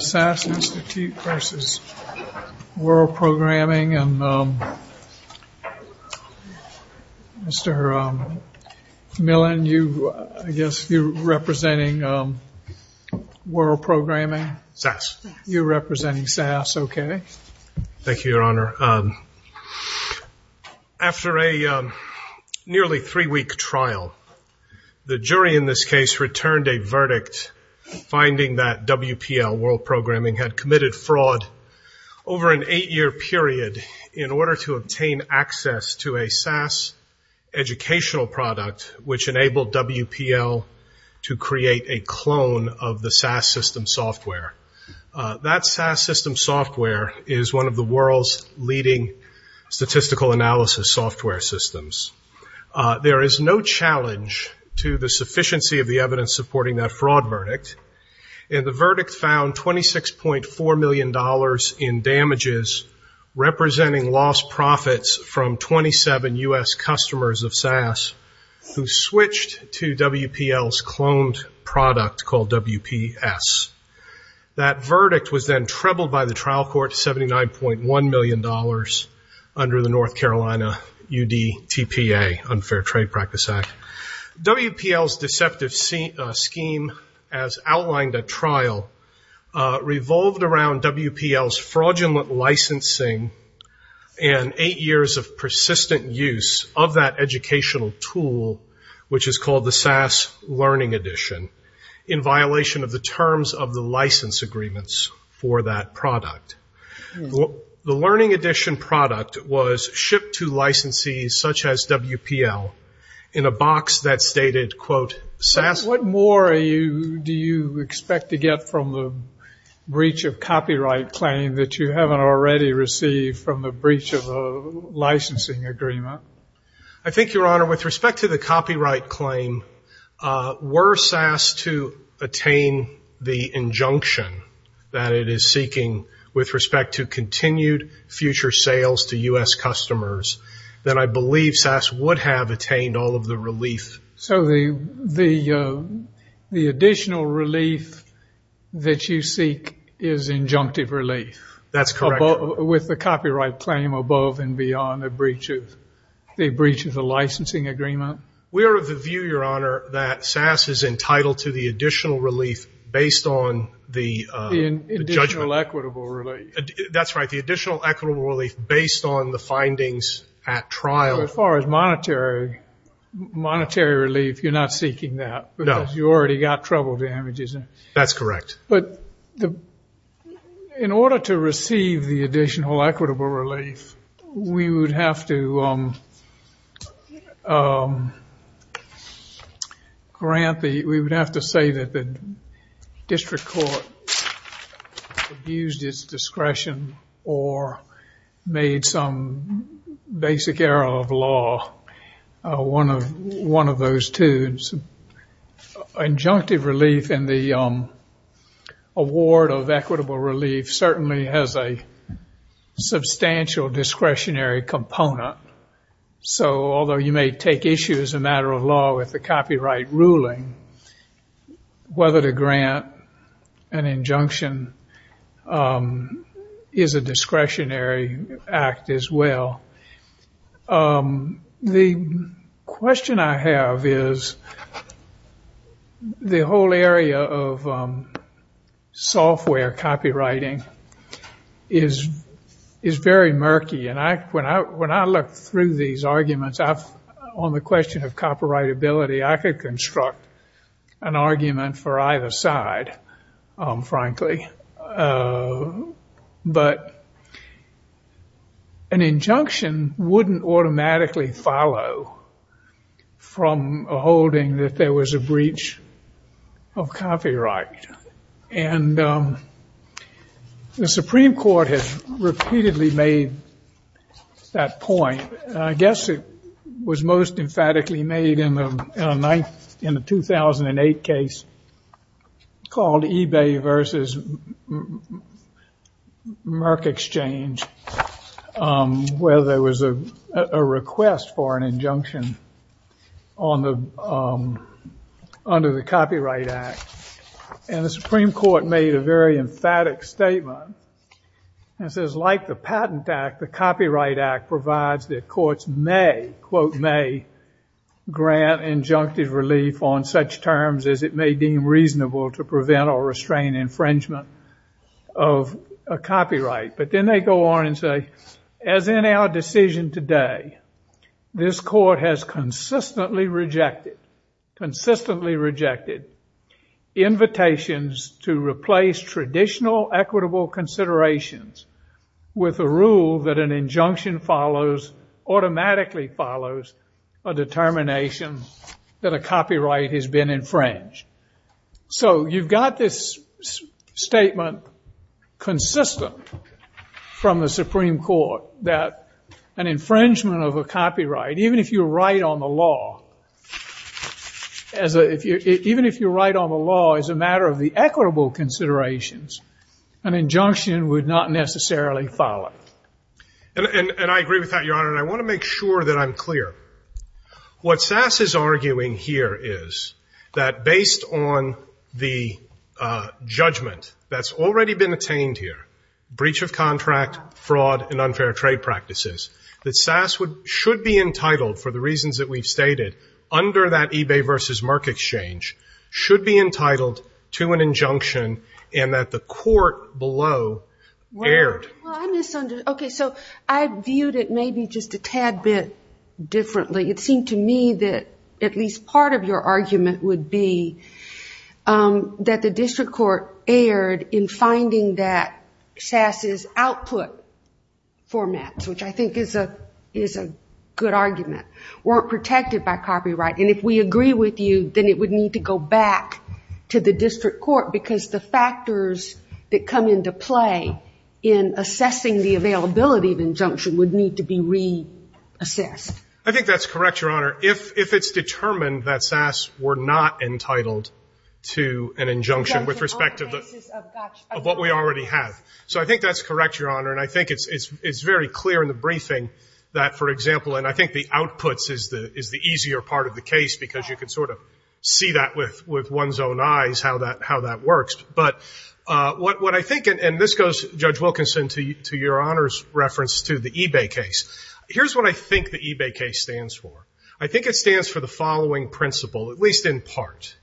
SASS Institute, Inc. v. World Programming Limited After a nearly three-week trial, the jury in this case returned a verdict finding that WPL, World Programming, had committed fraud over an eight-year period in order to obtain access to a SASS educational product which enabled WPL to create a clone of the SASS system software. That SASS system software is one of the world's leading statistical analysis software systems. There is no challenge to the sufficiency of the evidence supporting that fraud verdict, and the verdict found $26.4 million in damages representing lost profits from 27 U.S. customers of SASS who switched to WPL's cloned product called WPS. That verdict was then trebled by the trial court to $79.1 million under the North Carolina UDTPA, Unfair Trade Practice Act. WPL's deceptive scheme, as outlined at trial, revolved around WPL's fraudulent licensing and eight years of persistent use of that educational tool, which is called the SASS Learning Edition, in violation of the terms of the license agreements for that product. The Learning Edition product was shipped to licensees such as WPL in a box that stated, quote, SASS. What more do you expect to get from the breach of copyright claim that you haven't already received from the breach of a licensing agreement? I think, Your Honor, with respect to the copyright claim, were SASS to attain the injunction that it is seeking with respect to continued future sales to U.S. customers, then I believe SASS would have attained all of the relief. So the additional relief that you seek is injunctive relief? That's correct. With the copyright claim above and beyond the breach of the licensing agreement? We are of the view, Your Honor, that SASS is entitled to the additional relief based on the judgment. The additional equitable relief? That's right, the additional equitable relief based on the findings at trial. As far as monetary relief, you're not seeking that? No. Because you already got trouble damages. That's correct. But in order to receive the additional equitable relief, we would have to grant the, we would have to say that the district court abused its discretion or made some basic error of law, one of those two. And injunctive relief in the award of equitable relief certainly has a substantial discretionary component. So although you may take issue as a matter of law with the copyright ruling, whether to grant an injunction is a discretionary act as well. The question I have is the whole area of software copywriting is very murky. And when I look through these arguments on the question of copyrightability, I could construct an argument for either side, frankly. But an injunction wouldn't automatically follow from a holding that there was a breach of copyright. And the Supreme Court has repeatedly made that point, and I guess it was most emphatically made in the 2008 case called eBay versus Merck Exchange, where there was a request for an injunction under the Copyright Act. And the Supreme Court made a very emphatic statement and says, like the Patent Act, the Supreme Court cannot grant injunctive relief on such terms as it may deem reasonable to prevent or restrain infringement of a copyright. But then they go on and say, as in our decision today, this Court has consistently rejected invitations to replace traditional equitable considerations with a rule that an injunction follows, automatically follows a determination that a copyright has been infringed. So you've got this statement consistent from the Supreme Court that an infringement of a copyright, even if you write on the law, even if you write on the law as a matter of the equitable considerations, an injunction would not necessarily follow. And I agree with that, Your Honor, and I want to make sure that I'm clear. What SAS is arguing here is that based on the judgment that's already been attained here, breach of contract, fraud and unfair trade practices, that SAS should be entitled, for the reasons that we've stated, under that eBay versus Merck Exchange, should be entitled to an injunction and that the court below erred. Well, I misunderstood. Okay, so I viewed it maybe just a tad bit differently. It seemed to me that at least part of your argument would be that the district court erred in finding that SAS's output formats, which I think is a good argument, weren't protected by copyright. And if we agree with you, then it would need to go back to the district court because the factors that come into play in assessing the availability of injunction would need to be reassessed. I think that's correct, Your Honor. If it's determined that SAS were not entitled to an injunction with respect to what we already have. So I think that's correct, Your Honor, and I think it's very clear in the briefing that, for example, and I think the outputs is the easier part of the case because you can sort of see that with one's own eyes how that works. But what I think, and this goes, Judge Wilkinson, to Your Honor's reference to the eBay case. Here's what I think the eBay case stands for. I think it stands for the following principle, at least in part.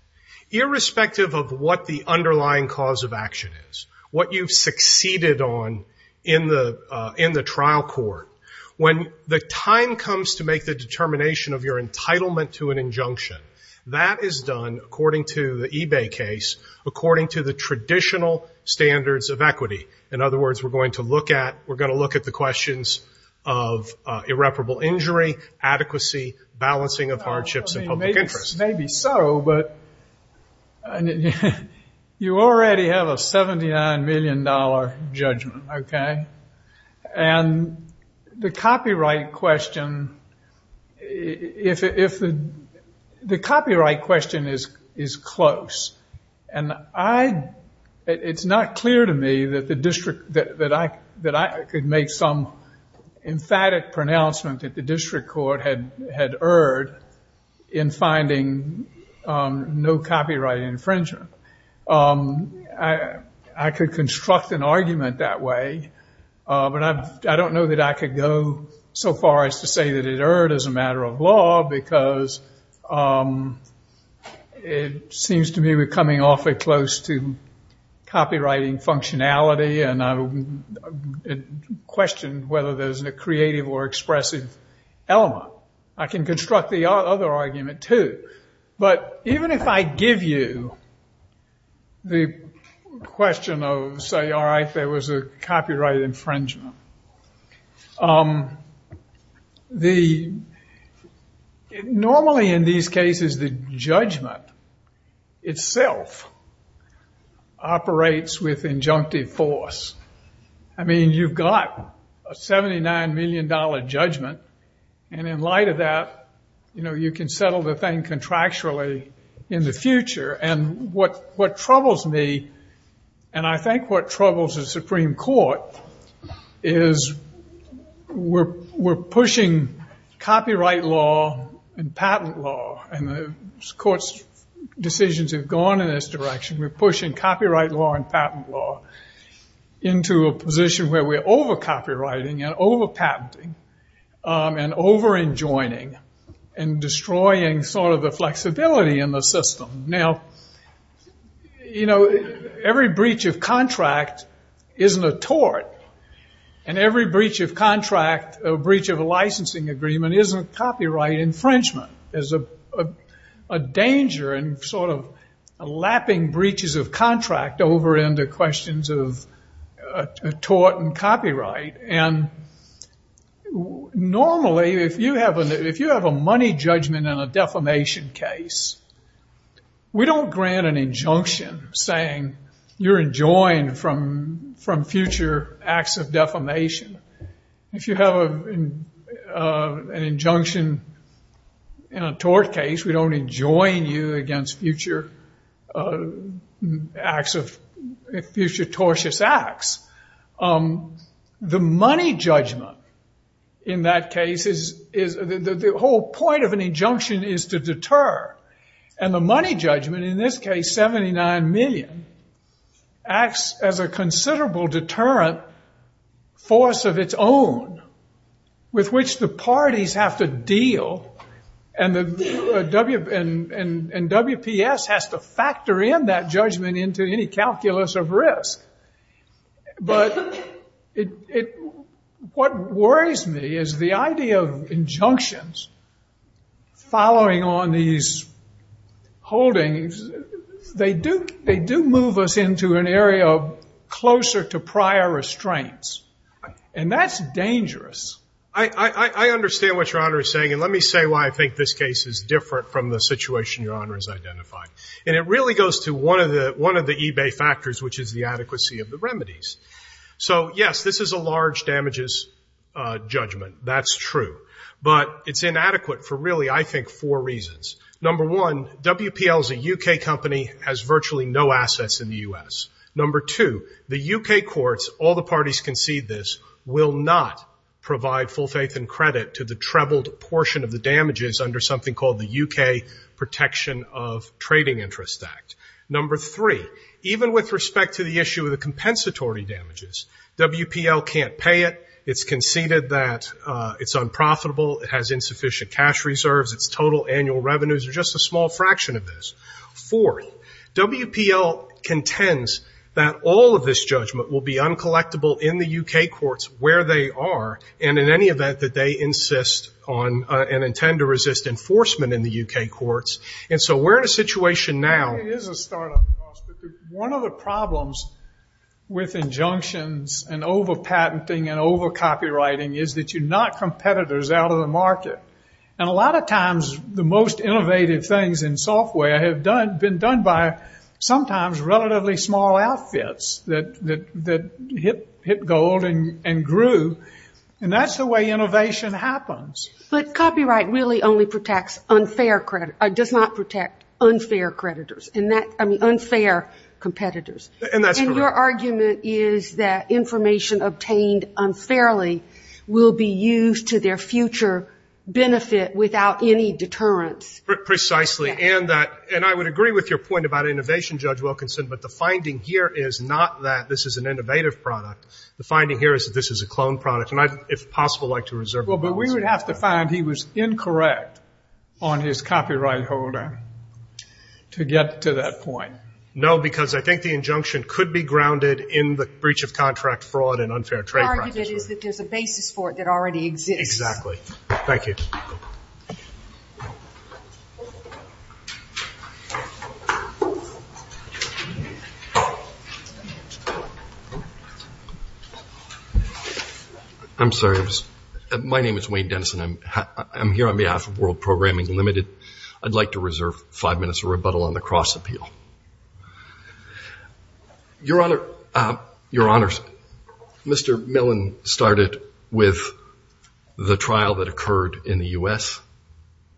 Irrespective of what the underlying cause of action is, what you've succeeded on in the trial court, when the time comes to make the determination of your entitlement to an injunction, that is done, according to the eBay case, according to the traditional standards of equity. In other words, we're going to look at the questions of irreparable injury, adequacy, balancing of hardships and public interest. Maybe so, but you already have a $79 million judgment, okay? And the copyright question is close, and it's not clear to me that I could make some emphatic pronouncement that the district court had erred in finding no copyright infringement. I could construct an argument that way, but I don't know that I could go so far as to say that it erred as a matter of law because it seems to me we're coming awfully close to copywriting functionality, and I question whether there's a creative or expressive element. I can construct the other argument, too. But even if I give you the question of, say, all right, there was a copyright infringement, normally in these cases the judgment itself operates with injunctive force. I mean, you've got a $79 million judgment, and in light of that, you know, you can settle the thing contractually in the future. And what troubles me, and I think what troubles the Supreme Court, is we're pushing copyright law and patent law, and the Court's decisions have gone in this direction. We're pushing copyright law and patent law into a position where we're over-copywriting and over-patenting. And over-enjoining and destroying sort of the flexibility in the system. Now, you know, every breach of contract isn't a tort, and every breach of contract, breach of a licensing agreement, isn't copyright infringement. There's a danger in sort of lapping breaches of contract over into questions of tort and copyright. And normally, if you have a money judgment in a defamation case, we don't grant an injunction saying you're enjoined from future acts of defamation. If you have an injunction in a tort case, we don't enjoin you against future acts of, future tort cases. And the money judgment in that case is, the whole point of an injunction is to deter. And the money judgment, in this case, 79 million, acts as a considerable deterrent force of its own, with which the parties have to deal, and WPS has to factor in that judgment into any calculus of risk. But it, what worries me is the idea of injunctions following on these holdings, they do move us into an area closer to prior restraints. And that's dangerous. I understand what Your Honor is saying, and let me say why I think this case is different from the situation Your Honor has identified. And it really goes to one of the eBay factors, which is the adequacy of the remedies. So yes, this is a large damages judgment, that's true. But it's inadequate for really, I think, four reasons. Number one, WPL is a UK company, has virtually no assets in the US. Number two, the UK courts, all the parties concede this, will not provide full faith and credit to the trebled portion of the Protection of Trading Interest Act. Number three, even with respect to the issue of the compensatory damages, WPL can't pay it, it's conceded that it's unprofitable, it has insufficient cash reserves, its total annual revenues are just a small fraction of this. Fourth, WPL contends that all of this judgment will be uncollectible in the UK courts where they are, and in any event that they insist on and intend to resist enforcement in the UK courts. And so we're in a situation now. One of the problems with injunctions and over-patenting and over-copywriting is that you knock competitors out of the market. And a lot of times the most innovative things in software have been done by sometimes relatively small outfits that hit gold and grew. And that's the way innovation happens. But copyright really only protects unfair, does not protect unfair creditors, I mean unfair competitors. And your argument is that information obtained unfairly will be used to their future benefit without any deterrence. Precisely. And I would agree with your point about innovation, Judge Wilkinson, but the finding here is not that this is an innovative product, the finding here is that this is a clone product, and I'd, if possible, like to reserve the balance. Well, but we would have to find he was incorrect on his copyright holder to get to that point. No, because I think the injunction could be grounded in the breach of contract fraud and unfair trade practices. The argument is that there's a basis for it that already exists. I'm sorry. My name is Wayne Dennison. I'm here on behalf of World Programming Limited. I'd like to reserve five minutes of rebuttal on the cross-appeal. Your Honor, Mr. Millen started with the trial that occurred in the U.S.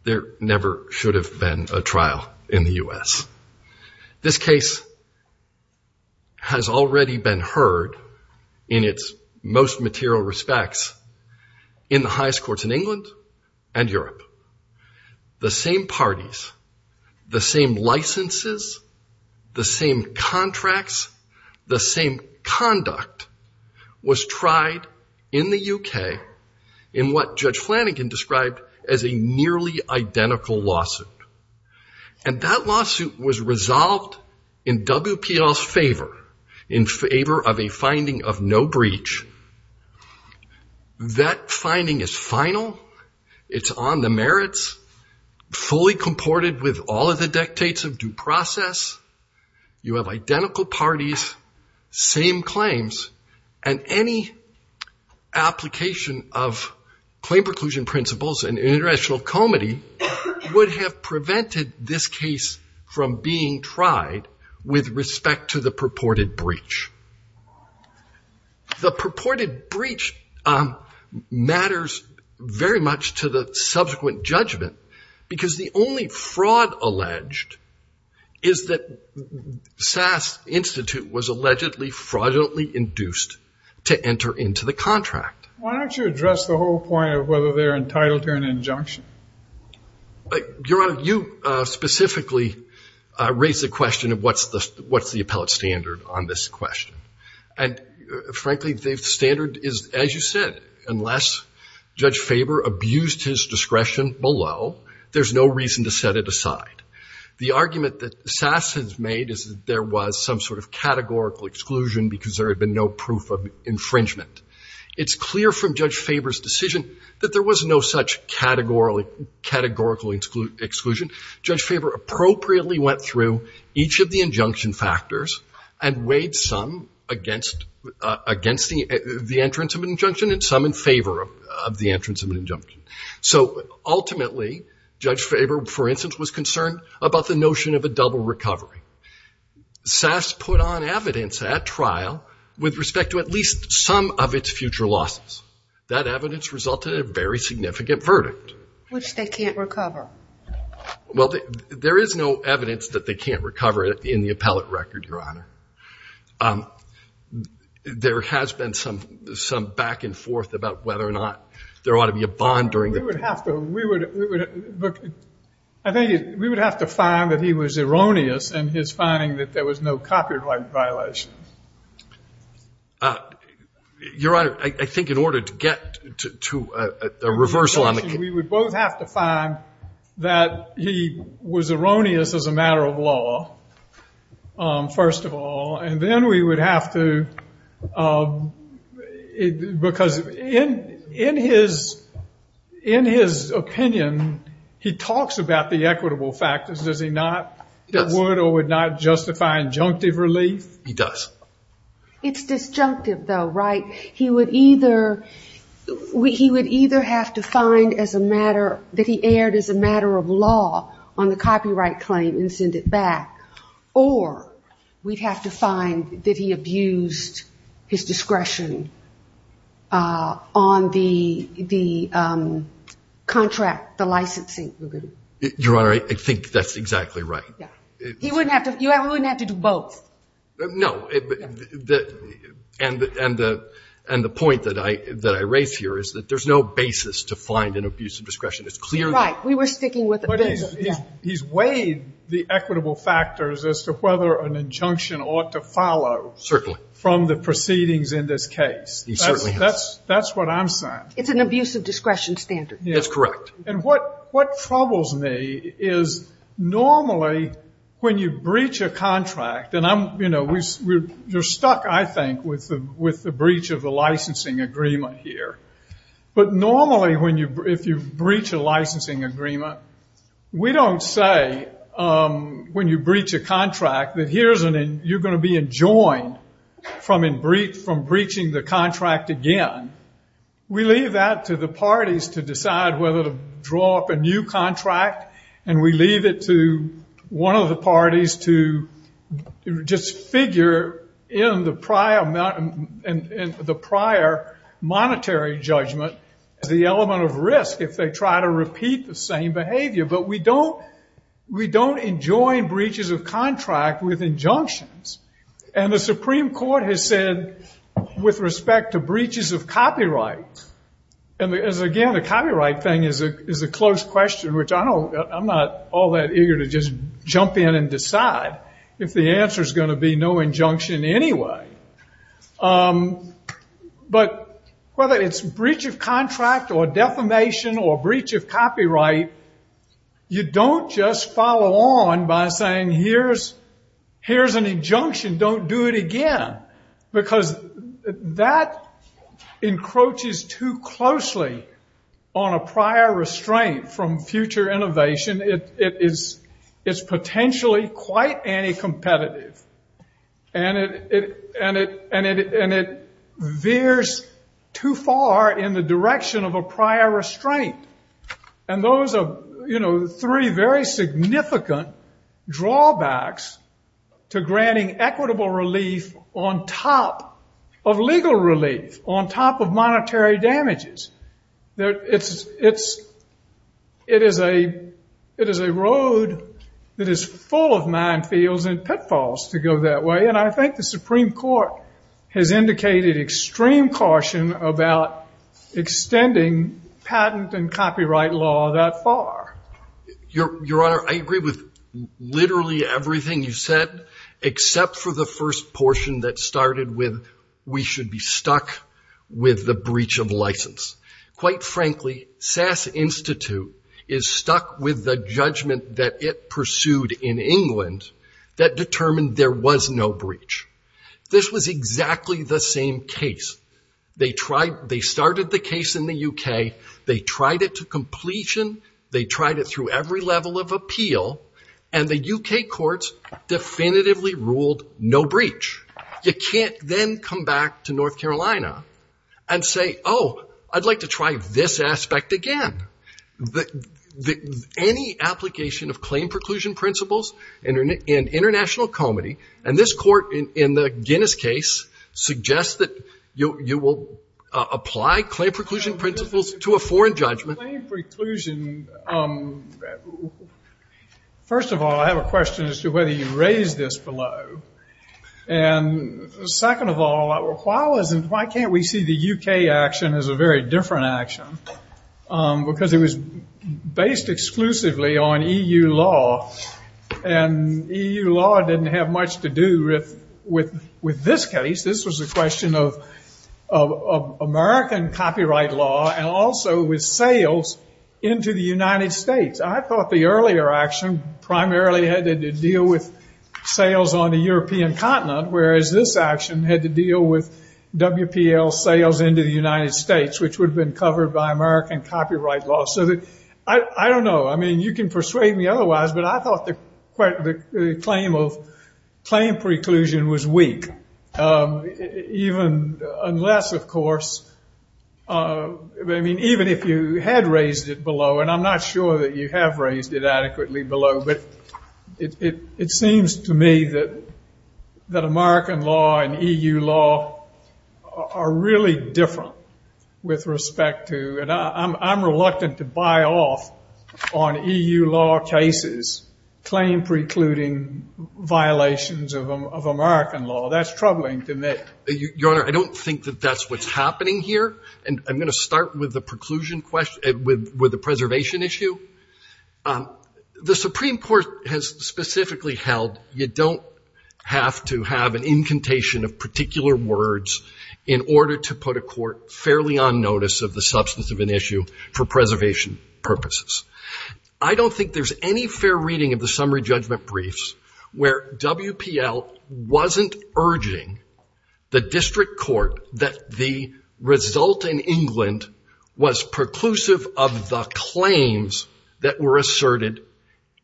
There never should have been a trial in the U.S. This case has already been heard in its most material respects in the highest courts in England and Europe. The same parties, the same licenses, the same contracts, the same conduct was tried in the U.K. in what Judge Flanagan described as a nearly identical lawsuit. The lawsuit was resolved in WPL's favor, in favor of a finding of no breach. That finding is final. It's on the merits, fully comported with all of the dictates of due process. You have identical parties, same claims, and any application of claim preclusion principles and international comity would have prevented this case from being heard in the U.S. from being tried with respect to the purported breach. The purported breach matters very much to the subsequent judgment because the only fraud alleged is that SAS Institute was allegedly fraudulently induced to enter into the contract. Why don't you address the whole point of whether they're entitled to an injunction? Your Honor, you specifically raised the question of what's the appellate standard on this question. And frankly, the standard is, as you said, unless Judge Faber abused his discretion below, there's no reason to set it aside. The argument that SAS has made is that there was some sort of categorical exclusion because there had been no proof of that. And we hear from Judge Faber's decision that there was no such categorical exclusion. Judge Faber appropriately went through each of the injunction factors and weighed some against the entrance of an injunction and some in favor of the entrance of an injunction. So ultimately, Judge Faber, for instance, was concerned about the notion of a double recovery. SAS put on evidence at trial with respect to at least some of its future losses. That evidence resulted in a very significant verdict. Which they can't recover. Well, there is no evidence that they can't recover in the appellate record, Your Honor. There has been some back and forth about whether or not there ought to be a bond. We would have to find that he was erroneous in his finding that there was no copyright violation. Your Honor, I think in order to get to a reversal on the case. We would both have to find that he was erroneous as a matter of law, first of all. And then we would have to, because in his opinion, he talks about the equitable factors. Does he not? Would or would not justify injunctive relief? He does. It's disjunctive, though, right? He would either have to find as a matter, that he erred as a matter of law on the copyright claim and send it back. Or we would have to find that he abused his discretion on the contract, the licensing. Your Honor, I think that's exactly right. He wouldn't have to, he wouldn't have to do both. No. And the point that I raise here is that there's no basis to find an abuse of discretion. It's clear that. Right. We were sticking with it. But he's weighed the equitable factors as to whether an injunction ought to follow. Certainly. From the proceedings in this case. That's what I'm saying. It's an abuse of discretion standard. That's correct. And what troubles me is, normally, when you breach a contract, and you're stuck, I think, with the breach of the licensing agreement here. But normally, if you breach a licensing agreement, we don't say, when you breach a contract, that you're going to be enjoined from breaching the contract again. We leave it at that. We leave that to the parties to decide whether to draw up a new contract. And we leave it to one of the parties to just figure in the prior monetary judgment, the element of risk, if they try to repeat the same behavior. But we don't enjoin breaches of contract with injunctions. And the Supreme Court has said, with respect to breaches of copyright, that we don't enjoin breaches of copyright. And, again, the copyright thing is a close question, which I'm not all that eager to just jump in and decide. If the answer's going to be no injunction anyway. But whether it's breach of contract or defamation or breach of copyright, you don't just follow on by saying, here's an injunction, don't do it again. Because that encroaches too close to the issue of breach of contract. And it veers too closely on a prior restraint from future innovation. It's potentially quite anti-competitive. And it veers too far in the direction of a prior restraint. And those are, you know, three very significant drawbacks to granting equitable relief on top of legal relief, on top of patent infringements. It is a road that is full of minefields and pitfalls to go that way. And I think the Supreme Court has indicated extreme caution about extending patent and copyright law that far. Your Honor, I agree with literally everything you said, except for the first portion that started with, we should be stuck with the breach of license. Quite frankly, SAS Institute is stuck with the judgment that it pursued in England that determined there was no breach. This was exactly the same case. They started the case in the UK, they tried it to completion, they tried it through every level of appeal, and the UK courts definitively ruled no breach. You can't then come back to North Carolina and say, oh, I'd like to try this aspect again. Any application of claim preclusion principles in international comedy, and this court in the Guinness case suggests that you will apply claim preclusion principles to a foreign judgment. First of all, I have a question as to whether you raised this below. And second of all, I'm not sure if you raised this below. Why can't we see the UK action as a very different action? Because it was based exclusively on EU law, and EU law didn't have much to do with this case. This was a question of American copyright law and also with sales into the United States. I thought the earlier action primarily had to deal with sales on the European continent, whereas this action had to deal with WPL sales into the United States, which would have been covered by American copyright law. I don't know, you can persuade me otherwise, but I thought the claim of claim preclusion was weak. Even if you had raised it below, and I'm not sure that you have raised it adequately below, but it seems to me that American law and EU law have a lot to do with this. And I don't think that's what's happening here. And I'm going to start with the preclusion question, with the preservation issue. The Supreme Court has specifically held you don't have to have an incantation of particular words in order to put a court fairly on notice of the substance of an issue for preservation purposes. I don't think there's any fair reading of the summary judgment briefs where WPL wasn't urging the district court that the result in England was preclusive of the claims that were asserted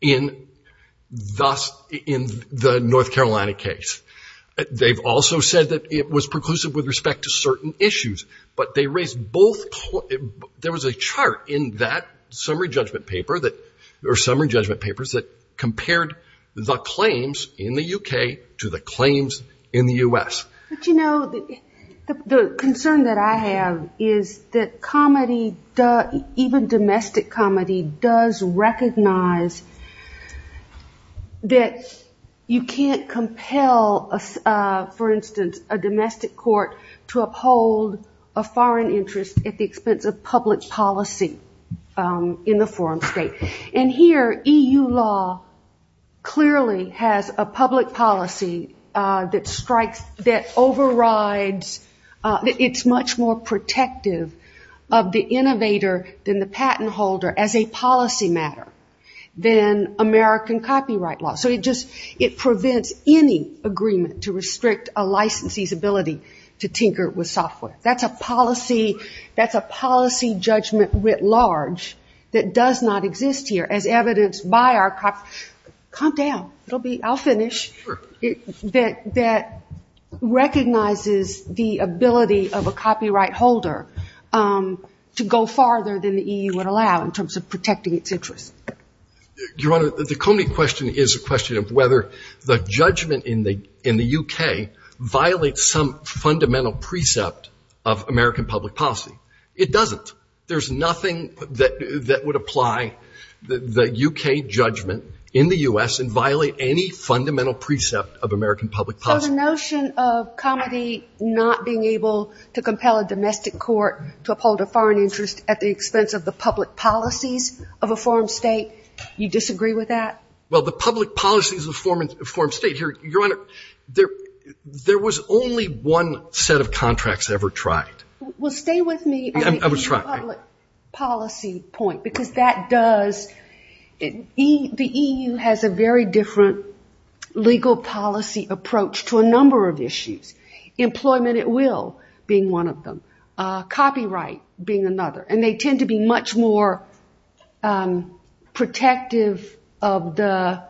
in the North Carolina case. They've also said that it was preclusive of the claims that were asserted in England. They've also said that it was preclusive with respect to certain issues. But there was a chart in that summary judgment paper that compared the claims in the UK to the claims in the U.S. But you know, the concern that I have is that even domestic comedy does recognize that you can't compel, for instance, a domestic court to uphold a foreign interest at the expense of public policy in the foreign state. And here, EU law clearly has a public policy that strikes, that overrides, it's much more protective of the innovator than the patent holder as a policy matter than American copyright law. So it just, it prevents any agreement to restrict a license holder's ability to tinker with software. That's a policy, that's a policy judgment writ large that does not exist here. As evidenced by our, calm down, I'll finish, that recognizes the ability of a copyright holder to go farther than the EU would allow in terms of protecting its interests. Your Honor, the comedy question is a question of whether the judgment in the UK violates some fundamental precept of American public policy. It doesn't. There's nothing that would apply the UK judgment in the U.S. and violate any fundamental precept of American public policy. So the notion of comedy not being able to compel a domestic court to uphold a foreign interest at the expense of the public policy of a foreign state, you disagree with that? Well, the public policy of a foreign state, Your Honor, there was only one set of contracts ever tried. Well, stay with me on the EU public policy point, because that does, the EU has a very different legal policy approach to a number of issues. Employment at will being one of them. Copyright being another. And they tend to be much more protective of the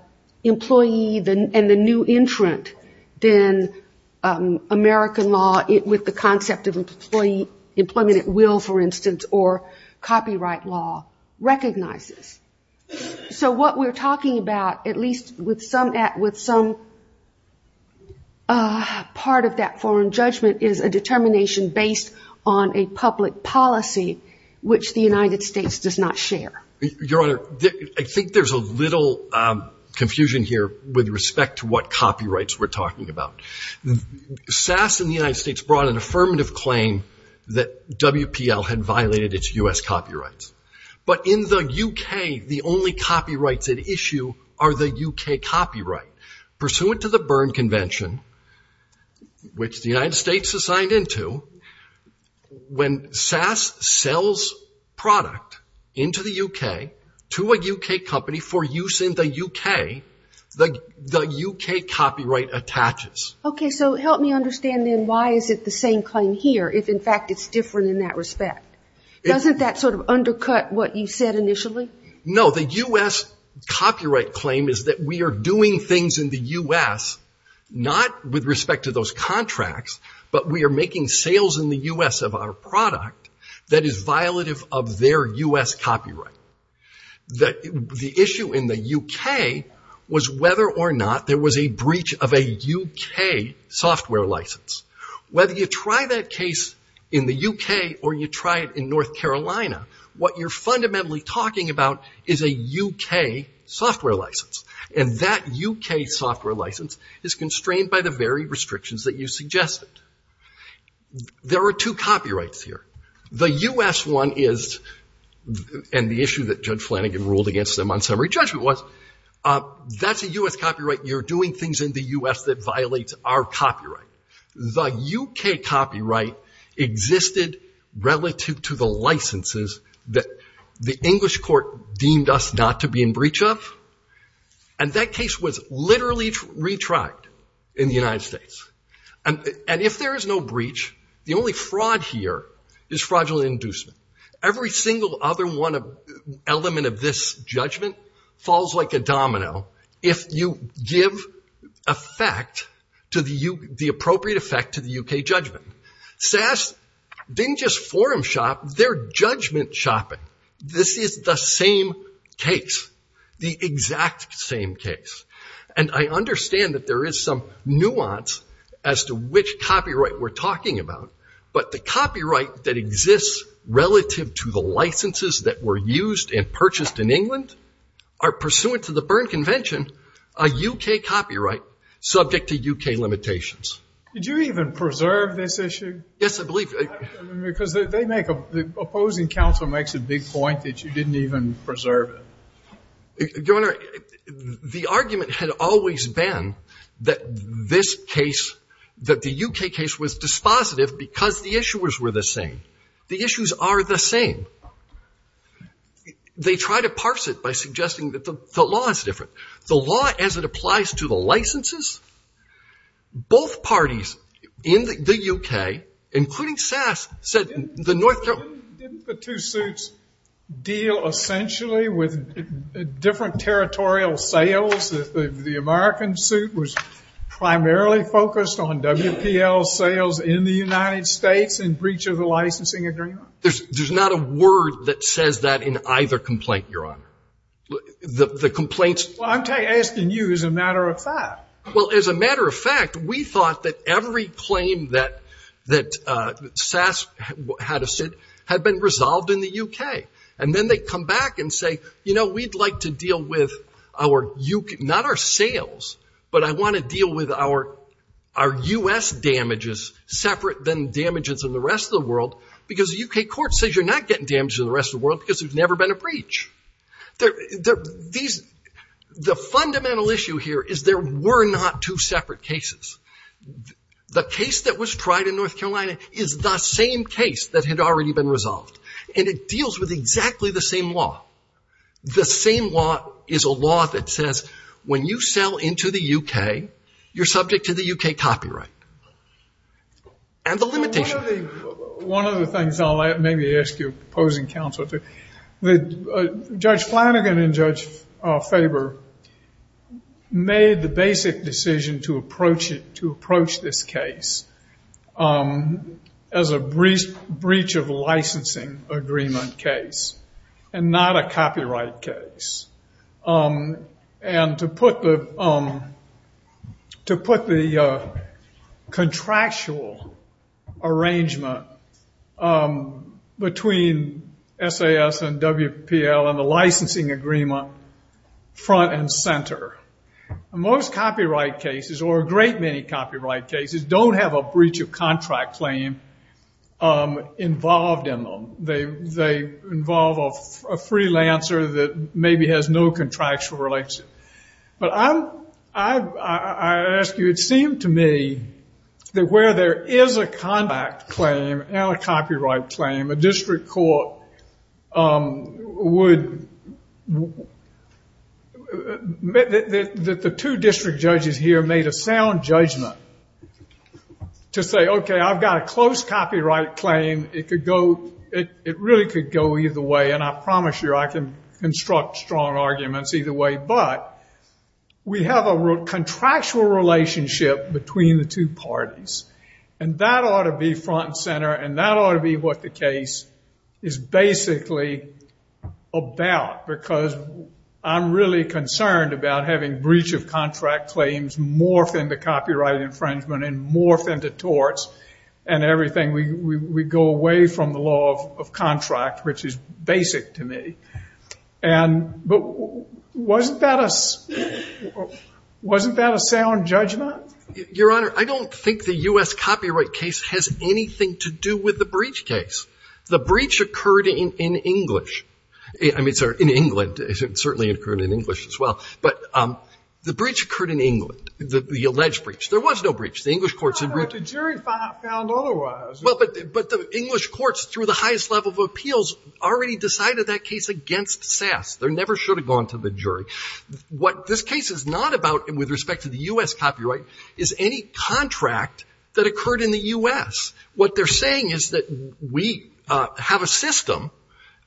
employee and the new entrant than American law with the concept of employment at will, for instance, or copyright law recognizes. So what we're talking about, at least with some part of that foreign judgment, is a determination based on a public policy, which the United States does not share. Your Honor, I think there's a little confusion here with respect to what copyrights we're talking about. SAS in the United States brought an affirmative claim that WPL had violated its U.S. copyrights. But in the UK, the only copyrights at issue are the UK copyright. Pursuant to the Berne Convention, which the United States is signed into, when SAS sells copyrights to a UK company for use in the UK, the UK copyright attaches. Okay. So help me understand then why is it the same claim here, if in fact it's different in that respect? Doesn't that sort of undercut what you said initially? No. The U.S. copyright claim is that we are doing things in the U.S., not with respect to those contracts, but we are making sales in the U.S. of our product that is violative of their U.S. copyright. The issue in the UK was whether or not there was a breach of a UK software license. Whether you try that case in the UK or you try it in North Carolina, what you're fundamentally talking about is a UK software license. And that UK software license is constrained by the very restrictions that you suggested. There are two copyrights here. The U.S. one is, and the issue that Judge Flanagan ruled against them on summary judgment was, that's a U.S. copyright. You're doing things in the U.S. that violate our copyright. The UK copyright existed relative to the licenses that the English court deemed us not to be in breach of. And that case was literally retried in the United States. And if there is no breach, the only fraud here is fraudulent inducement. Every single other element of this judgment falls like a domino if you give the appropriate effect to the UK judgment. SAS didn't just forum shop, they're judgment shopping. This is the same case, the exact same case. And I understand that there is some nuance as to which copyright we're talking about, but the copyright that exists relative to the licenses that were used and purchased in England are pursuant to the Byrne Convention a UK copyright subject to UK limitations. Did you even preserve this issue? Yes, I believe. The argument had always been that this case, that the UK case was dispositive because the issuers were the same. The issues are the same. They try to parse it by suggesting that the law is different. The law, as it applies to the licenses, both parties in the UK, both parties in the U.S., both parties in the United States, including SAS, said the North Carolina... Didn't the two suits deal essentially with different territorial sales? The American suit was primarily focused on WPL sales in the United States in breach of the licensing agreement? There's not a word that says that in either complaint, Your Honor. Well, I'm asking you as a matter of fact. Well, as a matter of fact, we thought that every claim that SAS had to sit had been resolved in the UK. And then they come back and say, you know, we'd like to deal with our... Not our sales, but I want to deal with our U.S. damages separate than damages in the rest of the world, because the UK court says you're not getting damages in the rest of the world because there's never been a breach. The fundamental issue here is there were not two separate cases. The case that was tried in North Carolina is the same case that had already been resolved. And it deals with exactly the same law. The same law is a law that says when you sell into the UK, you're subject to the UK copyright. And the limitation... One of the things I'll maybe ask your opposing counsel to... Judge Flanagan and Judge Faber made the basic decision to approach this case as a breach of licensing agreement case, and not a copyright case. And to put the contractual arrangement between SAS and WPL and the licensing agreement front and center. Most copyright cases, or a great many copyright cases, don't have a breach of contract claim involved in them. They involve a freelancer that maybe has no contractual relationship. But I ask you, it seemed to me that where there is a contract claim and a copyright claim, a district court would... The two district judges here made a sound judgment to say, okay, I've got a close copyright claim. It really could go either way, and I promise you I can construct strong arguments either way. But we have a contractual relationship between the two parties. And that ought to be front and center, and that ought to be what the case is basically about. Because I'm really concerned about having breach of contract claims morph into copyright infringement and morph into torts and everything. We go away from the law of contract, which is basic to me. But wasn't that a sound judgment? Your Honor, I don't think the U.S. copyright case has anything to do with the breach case. The breach occurred in English. I mean, sorry, in England. It certainly occurred in English as well. But the breach occurred in England, the alleged breach. There was no breach. The English courts...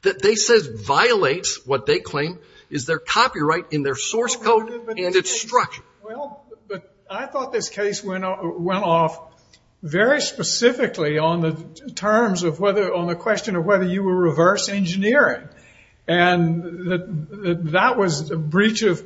It says violates what they claim is their copyright in their source code and its structure. Well, but I thought this case went off very specifically on the terms of whether... On the question of whether you were reverse engineering. And that was a breach of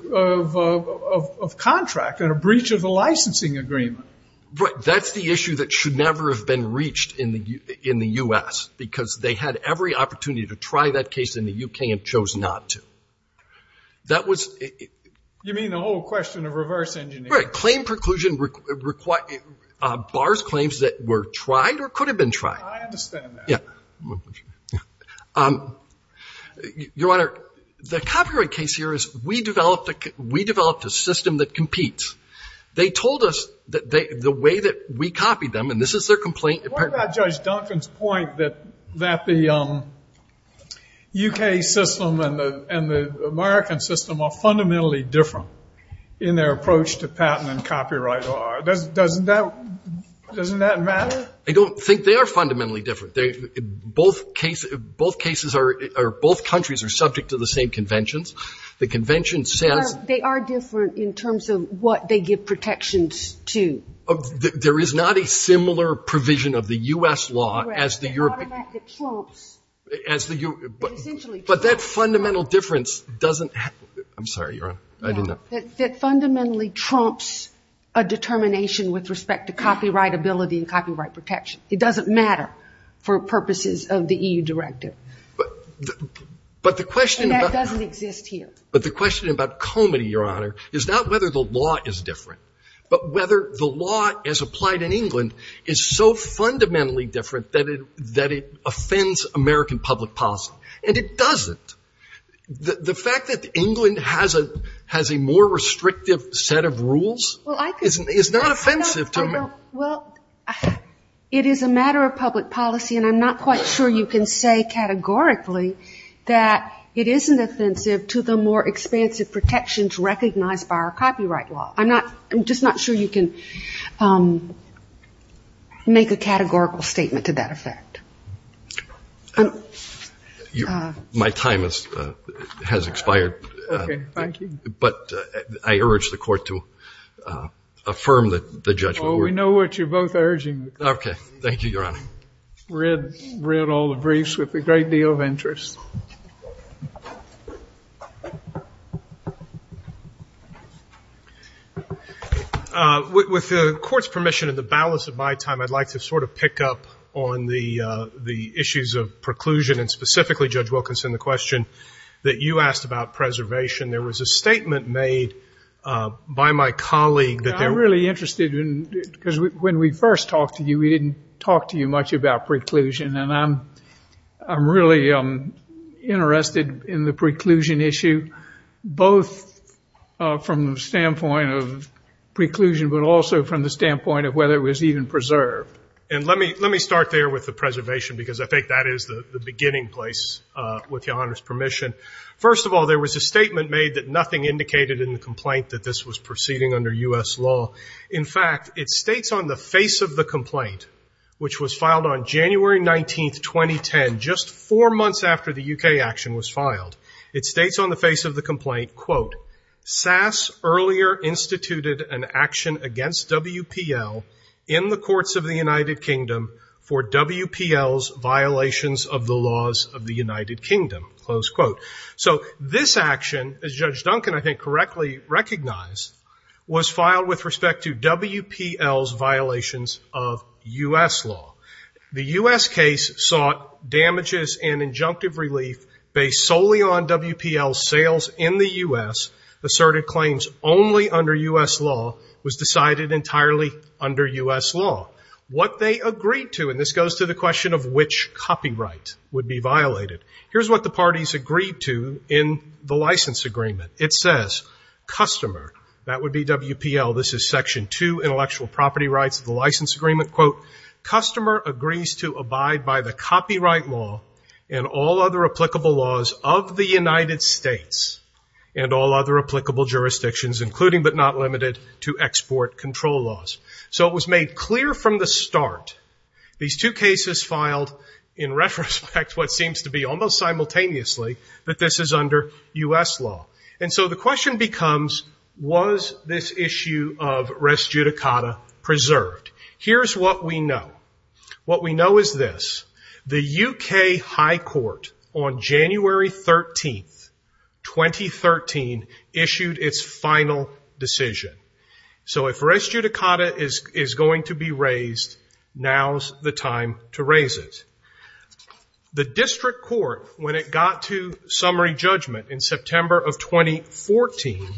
contract and a breach of the licensing agreement. But that's the issue that should never have been reached in the U.S. because they had every opportunity to try that case in the U.K. and chose not to. You mean the whole question of reverse engineering? Bar's claims that were tried or could have been tried. I understand that. Your Honor, the copyright case here is we developed a system that competes. They told us that the way that we copied them, and this is their complaint... What about Judge Duncan's point that the U.K. system and the American system are fundamentally different in their approach to patent and copyright law? Doesn't that matter? I don't think they are fundamentally different. Both countries are subject to the same conventions. They are different in terms of what they give protections to. There is not a similar provision of the U.S. law as the European... But that fundamental difference doesn't... That fundamentally trumps a determination with respect to copyright ability and copyright protection. It doesn't matter for purposes of the EU directive. And that doesn't exist here. But the question about comedy, Your Honor, is not whether the law is different, but whether the law as applied in England is so fundamentally different that it offends American public policy. And it doesn't. The fact that England has a more restrictive set of rules is not offensive to me. Well, it is a matter of public policy, and I'm not quite sure you can say categorically that it isn't offensive to the more expansive protections recognized by our copyright law. I'm just not sure you can make a categorical statement to that effect. My time has expired. Okay. Thank you. But I urge the Court to affirm the judgment. Oh, we know what you're both urging. Okay. Thank you, Your Honor. I read all the briefs with a great deal of interest. With the Court's permission and the balance of my time, I'd like to sort of pick up on the issues of preclusion and specifically, Judge Wilkinson, the question that you asked about preservation. There was a statement made by my colleague that there... Because when we first talked to you, we didn't talk to you much about preclusion, and I'm really interested in the preclusion issue, both from the standpoint of preclusion, but also from the standpoint of whether it was even preserved. And let me start there with the preservation, because I think that is the beginning place, with Your Honor's permission. First of all, there was a statement made that nothing indicated in the complaint that this was proceeding under U.S. law. In fact, it states on the face of the complaint, which was filed on January 19, 2010, just four months after the U.K. action was filed. It states on the face of the complaint, quote, So this action, as Judge Duncan, I think, correctly recognized, was filed with respect to WPL's violations of U.S. law. The U.S. case sought damages and injunctive relief based solely on WPL's sales in the U.S. Asserted claims only under U.S. law was decided entirely under U.S. law. What they agreed to, and this goes to the question of which copyright would be violated. Here's what the parties agreed to in the license agreement. It says, customer, that would be WPL, this is section two, intellectual property rights of the license agreement, quote, and all other applicable jurisdictions, including but not limited to export control laws. So it was made clear from the start, these two cases filed in retrospect, what seems to be almost simultaneously, that this is under U.S. law. And so the question becomes, was this issue of res judicata preserved? Here's what we know. What we know is this. The U.K. high court on January 13th, 2013, issued its final decision. So if res judicata is going to be raised, now's the time to raise it. The district court, when it got to summary judgment in September of 2014,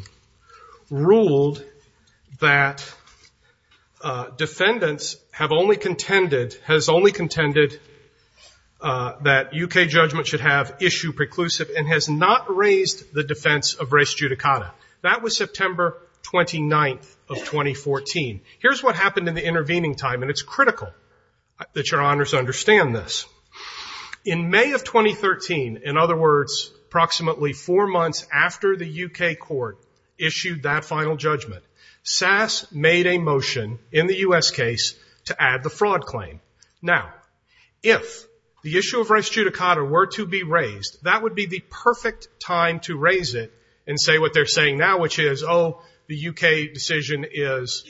ruled that defendants have only contended, has only contended, that U.K. judgment should have issue preclusive and has not raised the defense of res judicata. That was September 29th of 2014. Here's what happened in the intervening time, and it's critical that your honors understand this. In May of 2013, in other words, approximately four months after the U.K. court issued that final judgment, SAS made a motion in the U.S. case to add the fraud claim. Now, if the issue of res judicata were to be raised, that would be the perfect time to raise it and say what they're saying now, which is, oh, the U.K. decision is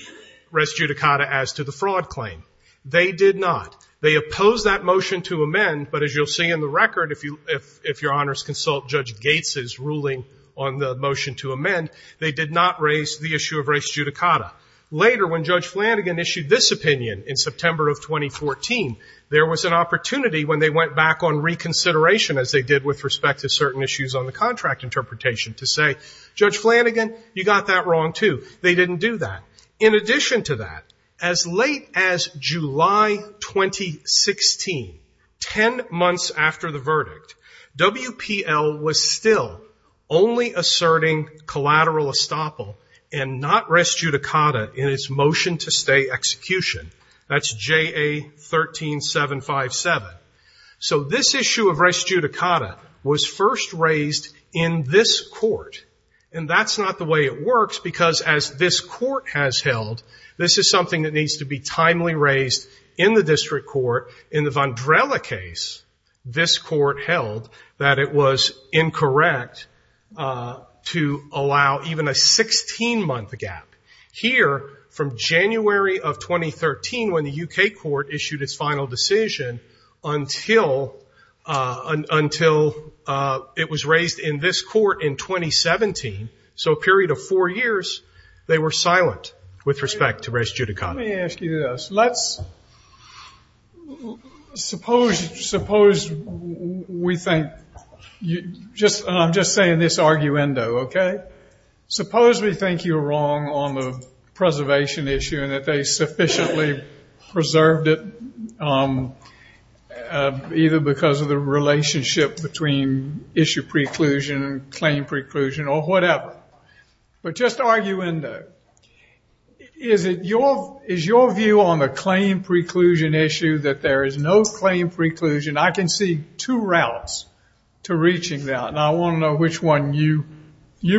res judicata as to the fraud claim. They did not. They opposed that motion to amend, but as you'll see in the record, if your honors consult Judge Gates's ruling on the motion to amend, they did not raise the issue of res judicata. Later, when Judge Flanagan issued this opinion in September of 2014, there was an opportunity, when they went back on reconsideration, as they did with respect to certain issues on the contract interpretation, to say, Judge Flanagan, you got that wrong, too. They didn't do that. In addition to that, as late as July 2016, ten months after the verdict, WPL was still only asserting collateral estoppel and not res judicata. In its motion to stay execution, that's J.A. 13757. So this issue of res judicata was first raised in this court. And that's not the way it works, because as this court has held, this is something that needs to be timely raised in the district court. In the Vandrella case, this court held that it was incorrect to allow even a 16-month gap. Later, from January of 2013, when the U.K. court issued its final decision, until it was raised in this court in 2017, so a period of four years, they were silent with respect to res judicata. Let me ask you this. Let's suppose we think, and I'm just saying this arguendo, okay? That this was a preservation issue and that they sufficiently preserved it, either because of the relationship between issue preclusion and claim preclusion or whatever. But just arguendo, is your view on the claim preclusion issue that there is no claim preclusion? I can see two routes to reaching that, and I want to know which one you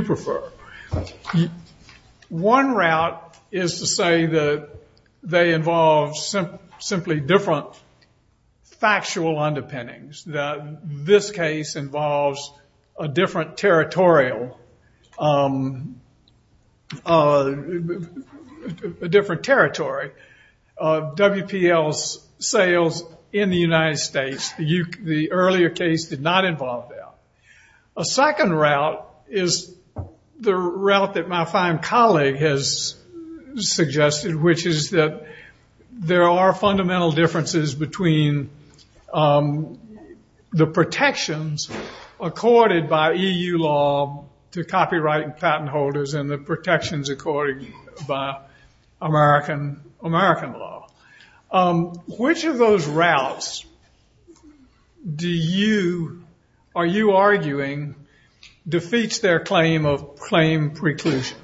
prefer. One route is to say that they involve simply different factual underpinnings, that this case involves a different territorial, a different territory of WPL's sales in the United States. The earlier case did not involve that. A second route is the route that my fine colleague has suggested, which is that there are fundamental differences between the protections accorded by EU law to copyright and patent holders and the protections accorded by American law. Which of those routes do you, are you arguing, defeats their claim of claim preclusion?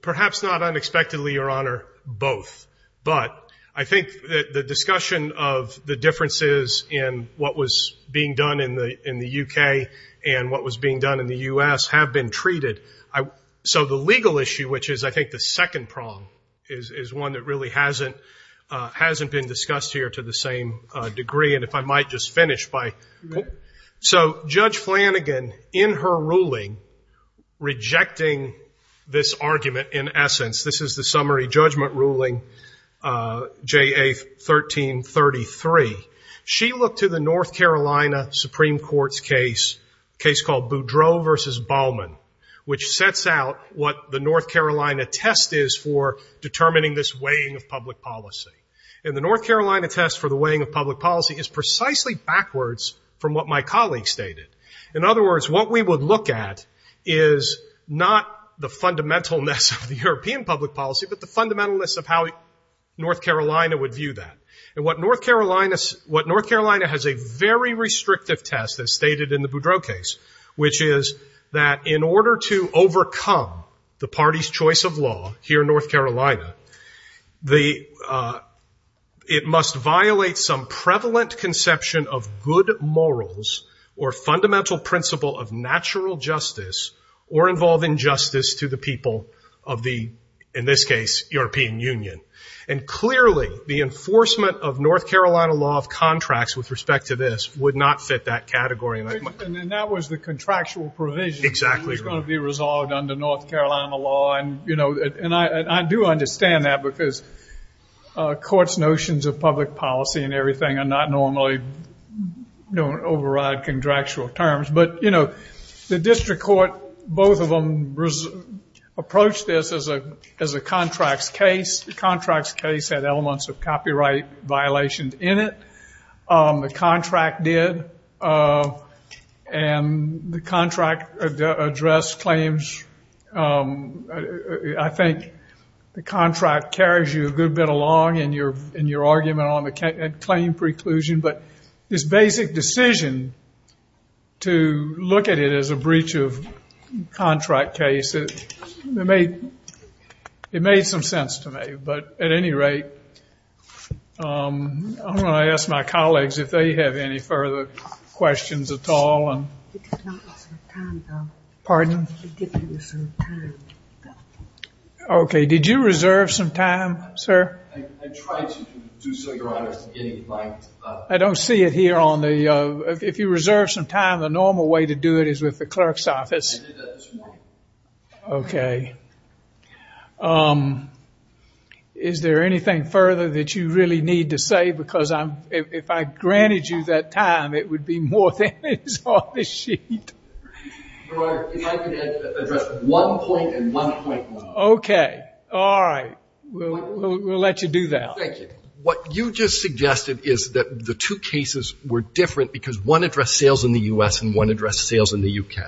Perhaps not unexpectedly, Your Honor, both. But I think the discussion of the differences in what was being done in the U.K. and what was being done in the U.S. have been treated. So the legal issue, which is I think the second prong, is one that really hasn't been discussed here to the same degree, and if I might just finish by... So Judge Flanagan, in her ruling, rejecting this argument in essence, this is the summary judgment ruling, J.A. 1333. She looked to the North Carolina Supreme Court's case, a case called Boudreau v. Bauman, which sets out what the North Carolina test is for determining this weighing of public policy. And the North Carolina test for the weighing of public policy is precisely backwards from what my colleague stated. In other words, what we would look at is not the fundamentalness of the European public policy, but the fundamentalness of how North Carolina would view that. And what North Carolina has a very restrictive test, as stated in the Boudreau case, which is that in order to overcome the party's choice of law here in North Carolina, it must violate some prevalent conception of good morals or fundamental principle of natural justice or involve injustice to the people of the, in this case, European Union. And clearly the enforcement of North Carolina law of contracts with respect to this would not fit that category. And that was the contractual provision that was going to be resolved under North Carolina law. And, you know, and I do understand that because courts' notions of public policy and everything are not normally, don't override contractual terms. But, you know, the district court, both of them approached this as a contracts case. The contracts case had elements of copyright violations in it. The contract did. And the contract addressed claims. I think the contract carries you a good bit along in your argument on the claim preclusion. But this basic decision to look at it as a breach of contract case, it made some sense to me. But at any rate, I'm going to ask my colleagues if they have any further questions at all. Pardon? Okay. Did you reserve some time, sir? I don't see it here on the, if you reserve some time, the normal way to do it is with the clerk's office. I did that this morning. Okay. Is there anything further that you really need to say? Because if I granted you that time, it would be more than his office sheet. Your Honor, if I could address one point and one point only. Okay. All right. We'll let you do that. What you just suggested is that the two cases were different because one addressed sales in the U.S. and one addressed sales in the U.K.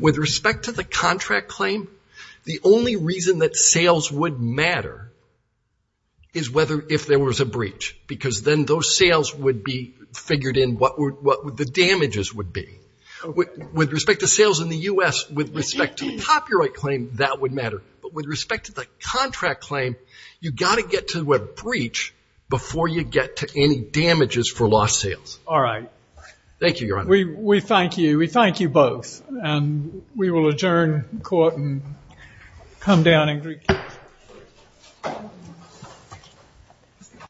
With respect to the contract claim, the only reason that sales would matter is whether, if there was a breach. Because then those sales would be figured in what the damages would be. With respect to sales in the U.S., with respect to the copyright claim, that would matter. But with respect to the contract claim, you've got to get to a breach before you get to any damages for lost sales. All right.